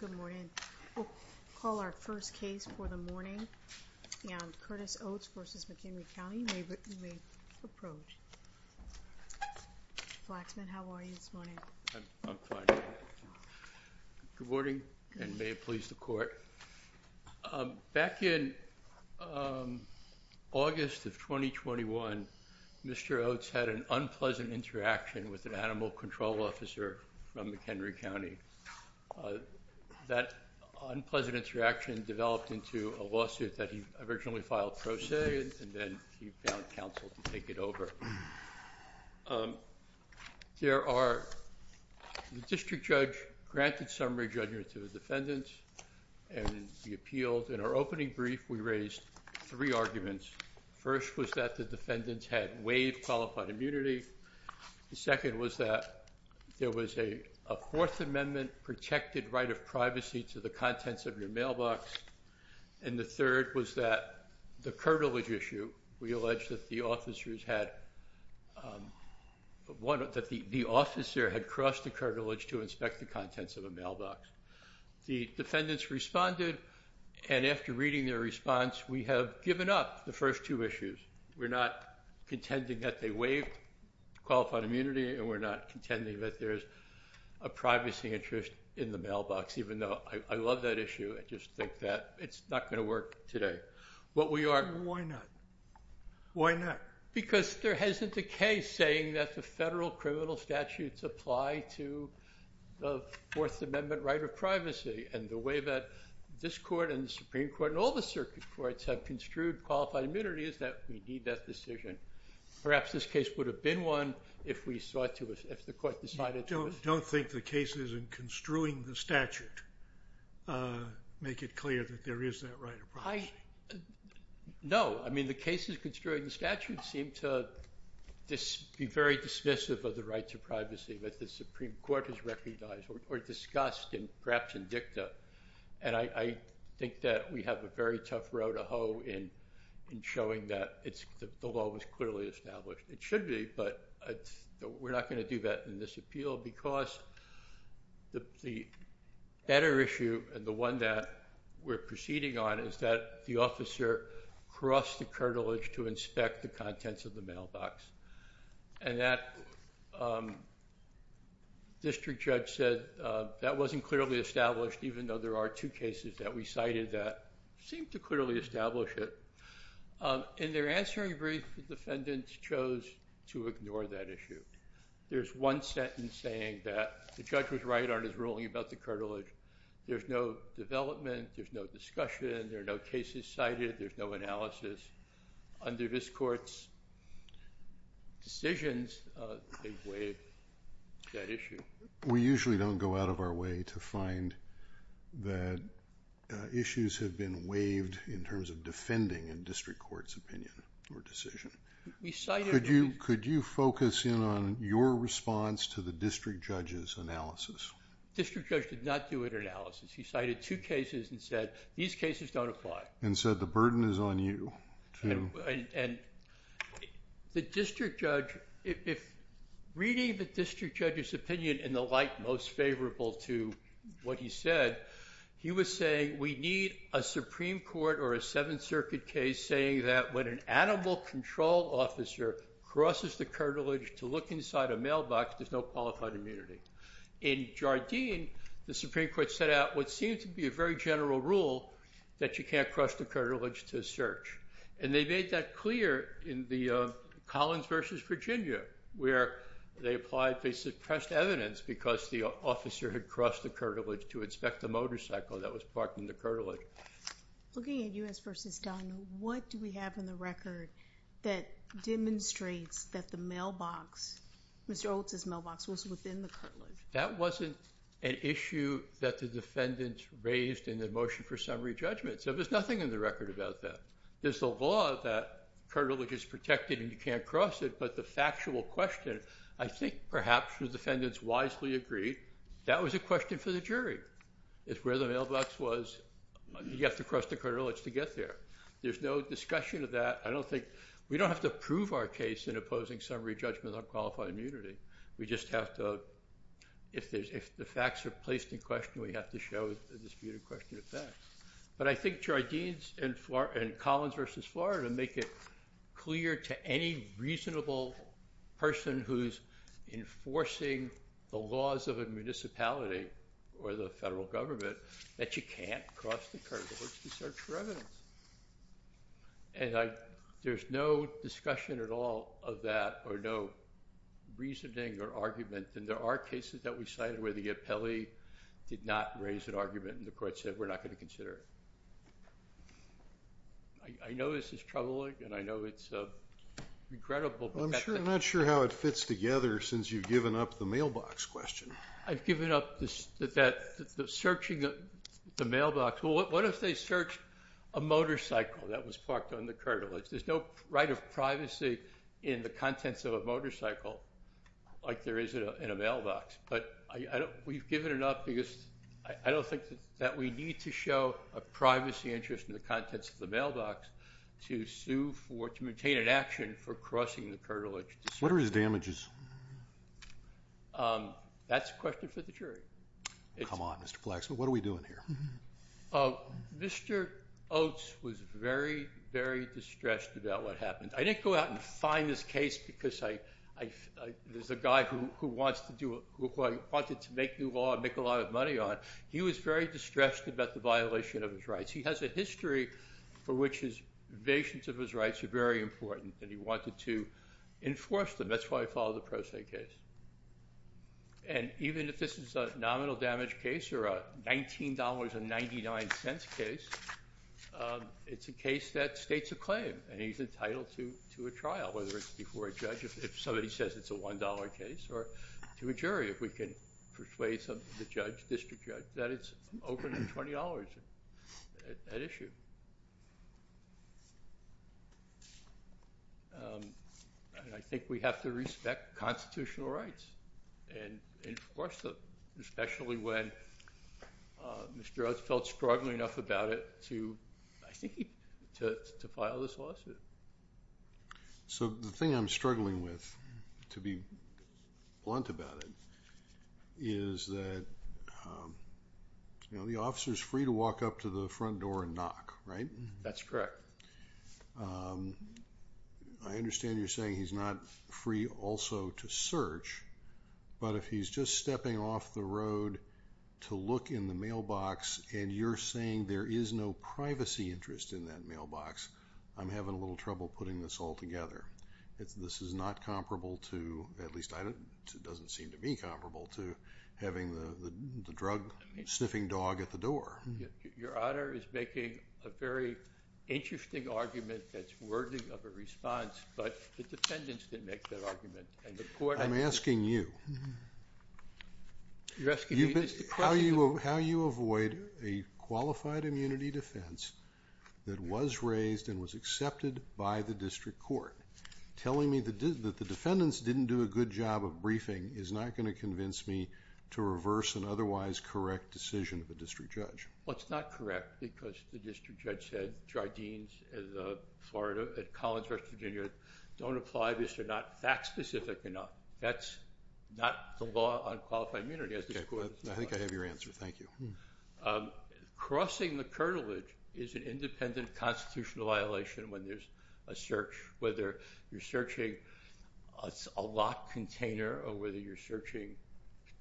Good morning. We'll call our first case for the morning. Curtis Oats v. McHenry County, you may approach. Mr. Flaxman, how are you this morning? I'm fine. Good morning, and may it please the court. Back in August of 2021, Mr. Oats had an unpleasant interaction with an animal control officer from McHenry County. That unpleasant interaction developed into a lawsuit that he originally filed pro se, and then he found counsel to take it over. The district judge granted summary judgment to the defendants, and he appealed. In our opening brief, we raised three arguments. First was that the defendants had waived qualified immunity. The second was that there was a Fourth Amendment protected right of privacy to the contents of your mailbox. And the third was that the officer had crossed the cartilage to inspect the contents of a mailbox. The defendants responded, and after reading their response, we have given up the first two issues. We're not contending that they waived qualified immunity, and we're not contending that there's a privacy interest in the mailbox, even though I love that issue. I just think that it's not going to work today. Why not? Why not? Because there hasn't a case saying that the federal criminal statutes apply to the Fourth Amendment right of privacy, and the way that this court and the Supreme Court and all the circuit courts have construed qualified immunity is that we need that decision. Perhaps this case would have been one if the court decided to. You don't think the cases in construing the statute make it clear that there is that right of privacy? No. I mean, the cases construed in the statute seem to be very dismissive of the rights of privacy that the Supreme Court has recognized or discussed, and perhaps in dicta. And I think that we have a very tough row to hoe in showing that the law was clearly established. It should be, but we're not going to do that in this appeal because the better issue and the one that we're proceeding on is that the officer crossed the cartilage to inspect the contents of the mailbox. And that district judge said that wasn't clearly established, even though there are two cases that we cited that seem to clearly establish it. In their answering brief, the defendants chose to ignore that issue. There's one sentence saying that the judge was right on his ruling about the cartilage. There's no development. There's no discussion. There are no cases cited. There's no analysis. Under this court's decisions, they waived that issue. We usually don't go out of our way to find that issues have been waived in terms of defending a district court's opinion or decision. Could you focus in on your response to the district judge's analysis? The district judge did not do an analysis. He cited two cases and said these cases don't apply. And said the burden is on you. The district judge, reading the district judge's opinion in the light most favorable to what he said, he was saying we need a Supreme Court or a Seventh Circuit case saying that when an animal control officer crosses the cartilage to look inside a mailbox, there's no qualified immunity. In Jardine, the Supreme Court set out what seemed to be a very general rule that you can't cross the cartilage to search. And they made that clear in the Collins v. Virginia, where they suppressed evidence because the officer had crossed the cartilage to inspect the motorcycle that was parked in the cartilage. Looking at U.S. v. Steiner, what do we have in the record that demonstrates that the mailbox, Mr. Oates' mailbox, was within the cartilage? That wasn't an issue that the defendants raised in the motion for summary judgment, so there's nothing in the record about that. There's a law that cartilage is protected and you can't cross it, but the factual question, I think perhaps the defendants wisely agreed, that was a question for the jury. It's where the mailbox was. You have to cross the cartilage to get there. There's no discussion of that. We don't have to prove our case in opposing summary judgment on qualified immunity. We just have to, if the facts are placed in question, we have to show a disputed question of facts. But I think Jardine and Collins v. Florida make it clear to any reasonable person who's enforcing the laws of a municipality or the federal government that you can't cross the cartilage to search for evidence. And there's no discussion at all of that or no reasoning or argument, and there are cases that we cited where the appellee did not raise an argument and the court said we're not going to consider it. I know this is troubling and I know it's regrettable. I'm not sure how it fits together since you've given up the mailbox question. I've given up the searching of the mailbox. Well, what if they search a motorcycle that was parked on the cartilage? There's no right of privacy in the contents of a motorcycle like there is in a mailbox. But we've given it up because I don't think that we need to show a privacy interest in the contents of the mailbox to sue for, to maintain an action for crossing the cartilage to search. What are his damages? That's a question for the jury. Come on, Mr. Flaxman. What are we doing here? Mr. Oates was very, very distressed about what happened. I didn't go out and find this case because there's a guy who wants to do it, who I wanted to make new law and make a lot of money on. He was very distressed about the violation of his rights. He has a history for which his evasions of his rights are very important and he wanted to enforce them. That's why he filed a pro se case. Even if this is a nominal damage case or a $19.99 case, it's a case that states a claim and he's entitled to a trial, whether it's before a judge if somebody says it's a $1 case or to a jury if we can persuade the judge, district judge, that it's over $20 at issue. I think we have to respect constitutional rights and enforce them, especially when Mr. Oates felt struggling enough about it to file this lawsuit. So the thing I'm struggling with, to be blunt about it, is that the officer's free to walk up to the front door and knock, right? That's correct. I understand you're saying he's not free also to search, but if he's just stepping off the road to look in the mailbox and you're saying there is no privacy interest in that mailbox, I'm having a little trouble putting this all together. This is not comparable to, at least it doesn't seem to be comparable to, having the drug sniffing dog at the door. Your Honor is making a very interesting argument that's worthy of a response, but the defendants didn't make that argument. I'm asking you. You're asking me this question. How you avoid a qualified immunity defense that was raised and was accepted by the district court. Telling me that the defendants didn't do a good job of briefing is not going to convince me to reverse an otherwise correct decision of a district judge. Well, it's not correct because the district judge said Dr. Deans at the College of West Virginia don't apply this. They're not fact specific enough. That's not the law on qualified immunity. I think I have your answer. Thank you. Crossing the cartilage is an independent constitutional violation when there's a search, whether you're searching a locked container or whether you're searching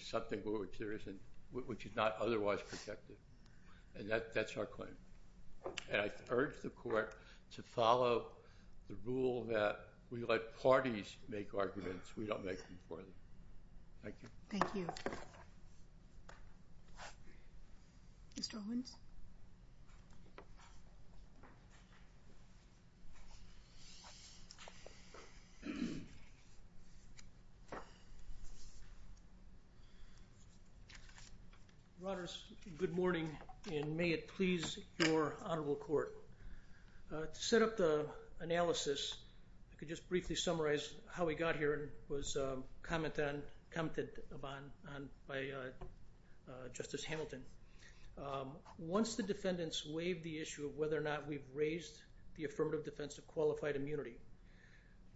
something which is not otherwise protected. That's our claim. I urge the court to follow the rule that we let parties make arguments. We don't make them for them. Thank you. Thank you. Mr. Owens. Good morning, and may it please your Honorable Court. To set up the analysis, I could just briefly summarize how we got here was commented upon by Justice Hamilton. Once the defendants waived the issue of whether or not we've raised the affirmative defense of qualified immunity,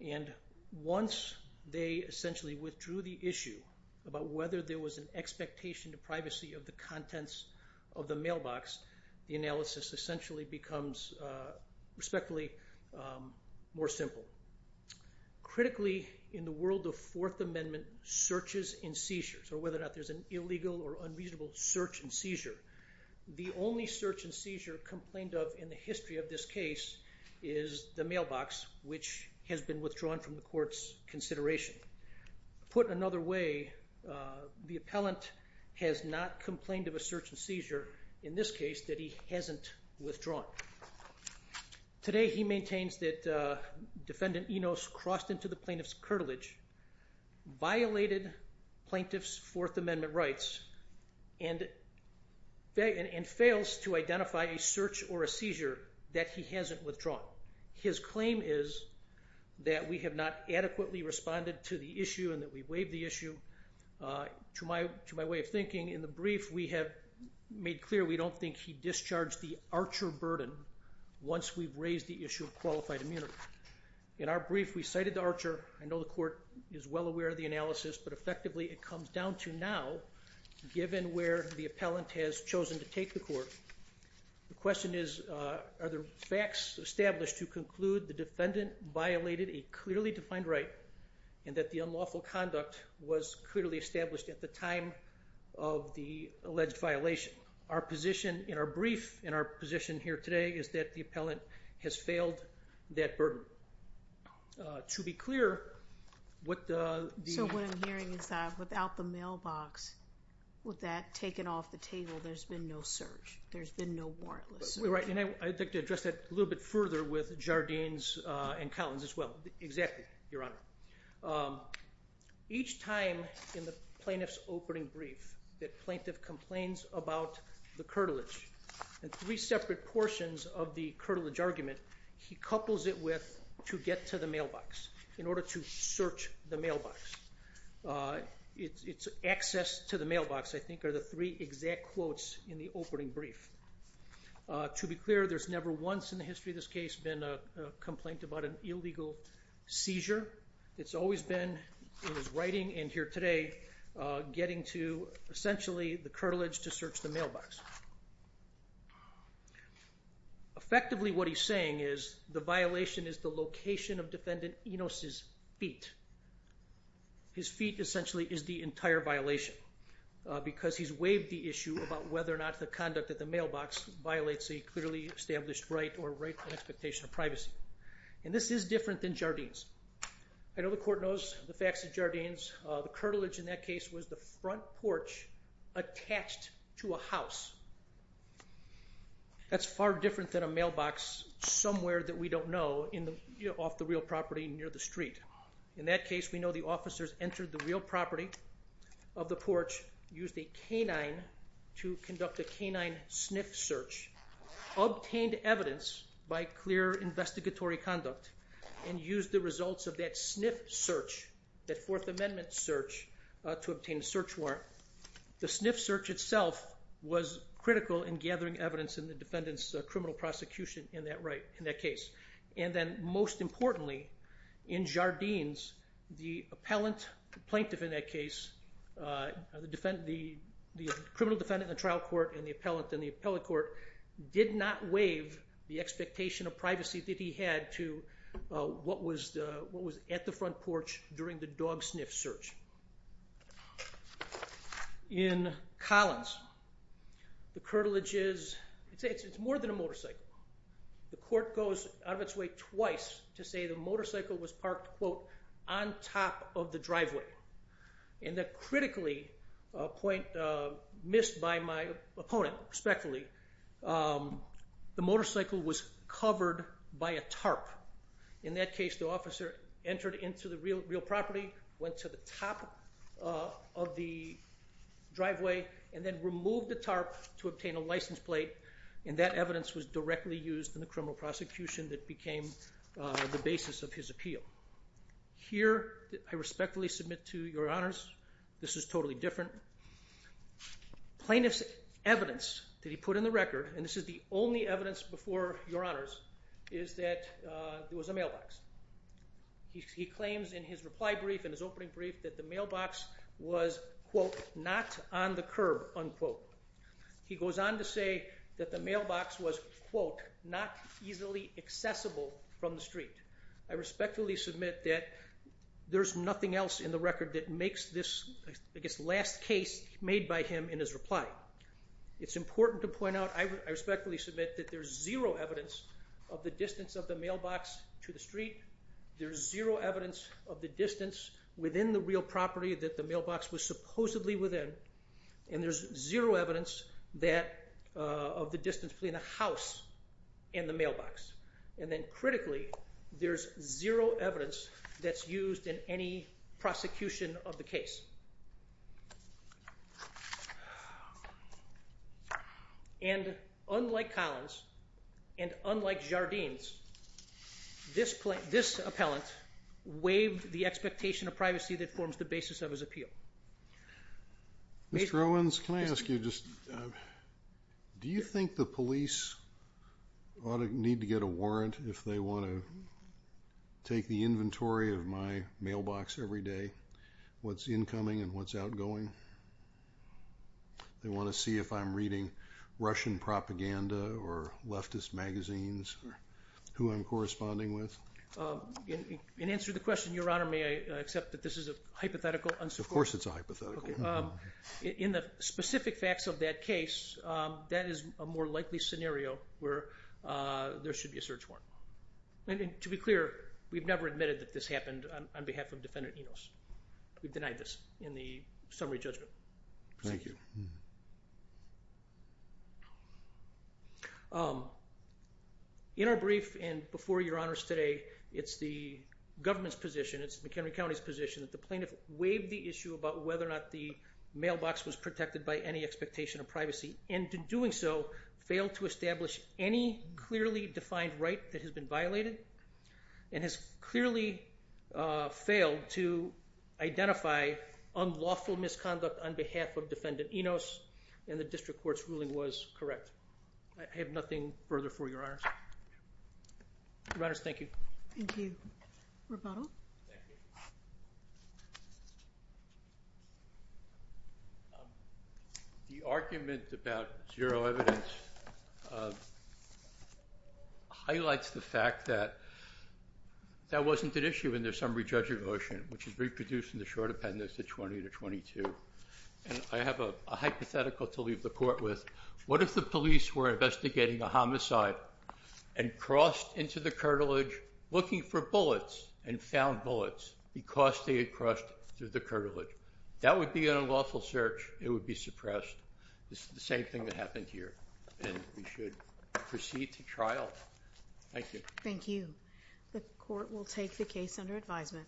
and once they essentially withdrew the issue about whether there was an expectation of privacy of the contents of the mailbox, the analysis essentially becomes respectfully more simple. Critically, in the world of Fourth Amendment searches and seizures, or whether or not there's an illegal or unreasonable search and seizure, the only search and seizure complained of in the history of this case is the mailbox, which has been withdrawn from the court's consideration. Put another way, the appellant has not complained of a search and seizure, in this case, that he hasn't withdrawn. Now, today he maintains that Defendant Enos crossed into the plaintiff's curtilage, violated plaintiff's Fourth Amendment rights, and fails to identify a search or a seizure that he hasn't withdrawn. His claim is that we have not adequately responded to the issue and that we waived the issue. To my way of thinking, in the brief, we have made clear we don't think he discharged the archer burden once we've raised the issue of qualified immunity. In our brief, we cited the archer. I know the court is well aware of the analysis, but effectively it comes down to now, given where the appellant has chosen to take the court. The question is, are there facts established to conclude the defendant violated a clearly defined right and that the unlawful conduct was clearly established at the time of the alleged violation? Our position in our brief, in our position here today, is that the appellant has failed that burden. To be clear, what the... So what I'm hearing is that without the mailbox, with that taken off the table, there's been no search. There's been no warrantless search. Right, and I'd like to address that a little bit further with Jardines and Collins as well. Exactly, Your Honor. Each time in the plaintiff's opening brief that plaintiff complains about the curtilage, in three separate portions of the curtilage argument, he couples it with, to get to the mailbox, in order to search the mailbox. It's access to the mailbox, I think, are the three exact quotes in the opening brief. To be clear, there's never once in the history of this case been a complaint about an illegal seizure. It's always been, in his writing and here today, getting to, essentially, the curtilage to search the mailbox. Effectively, what he's saying is the violation is the location of defendant Enos' feet. His feet, essentially, is the entire violation because he's waived the issue about whether or not the conduct at the mailbox violates a clearly established right or rightful expectation of privacy. And this is different than Jardines. I know the court knows the facts at Jardines. The curtilage in that case was the front porch attached to a house. That's far different than a mailbox somewhere that we don't know, off the real property near the street. In that case, we know the officers entered the real property of the porch, used a canine to conduct a canine sniff search, obtained evidence by clear investigatory conduct, and used the results of that sniff search, that Fourth Amendment search, to obtain a search warrant. The sniff search itself was critical in gathering evidence in the defendant's criminal prosecution in that case. And then, most importantly, in Jardines, the plaintiff in that case, the criminal defendant in the trial court and the appellant in the appellate court, did not waive the expectation of privacy that he had to what was at the front porch during the dog sniff search. In Collins, the curtilage is more than a motorcycle. The court goes out of its way twice to say the motorcycle was parked, quote, on top of the driveway. And the critically point missed by my opponent, respectfully, the motorcycle was covered by a tarp. In that case, the officer entered into the real property, went to the top of the driveway, and then removed the tarp to obtain a license plate, and that evidence was directly used in the criminal prosecution that became the basis of his appeal. Here, I respectfully submit to your honors, this is totally different. Plaintiff's evidence that he put in the record, and this is the only evidence before your honors, is that there was a mailbox. He claims in his reply brief, in his opening brief, that the mailbox was, quote, not on the curb, unquote. He goes on to say that the mailbox was, quote, not easily accessible from the street. I respectfully submit that there's nothing else in the record that makes this, I guess, last case made by him in his reply. It's important to point out, I respectfully submit that there's zero evidence of the distance of the mailbox to the street. There's zero evidence of the distance within the real property that the mailbox was supposedly within. And there's zero evidence of the distance between the house and the mailbox. And then critically, there's zero evidence that's used in any prosecution of the case. And unlike Collins, and unlike Jardines, this appellant waived the expectation of privacy that forms the basis of his appeal. Mr. Owens, can I ask you just, do you think the police ought to need to get a warrant if they want to take the inventory of my mailbox every day, what's incoming and what's outgoing? They want to see if I'm reading Russian propaganda or leftist magazines, who I'm corresponding with? In answer to the question, Your Honor, may I accept that this is a hypothetical? Of course it's a hypothetical. In the specific facts of that case, that is a more likely scenario where there should be a search warrant. And to be clear, we've never admitted that this happened on behalf of Defendant Enos. We've denied this in the summary judgment. Thank you. In our brief and before Your Honors today, it's the government's position, it's McHenry County's position, that the plaintiff waived the issue about whether or not the mailbox was protected by any expectation of privacy, and in doing so, failed to establish any clearly defined right that has been violated, and has clearly failed to identify unlawful misconduct on behalf of Defendant Enos, and the district court's ruling was correct. I have nothing further for Your Honors. Your Honors, thank you. Thank you. Rebuttal? Thank you. The argument about zero evidence highlights the fact that that wasn't an issue in the summary judgment motion, which is reproduced in the short appendix at 20 to 22. And I have a hypothetical to leave the court with. What if the police were investigating a homicide and crossed into the cartilage looking for bullets and found bullets because they had crossed through the cartilage? That would be an unlawful search. It would be suppressed. This is the same thing that happened here, and we should proceed to trial. Thank you. Thank you. The court will take the case under advisement.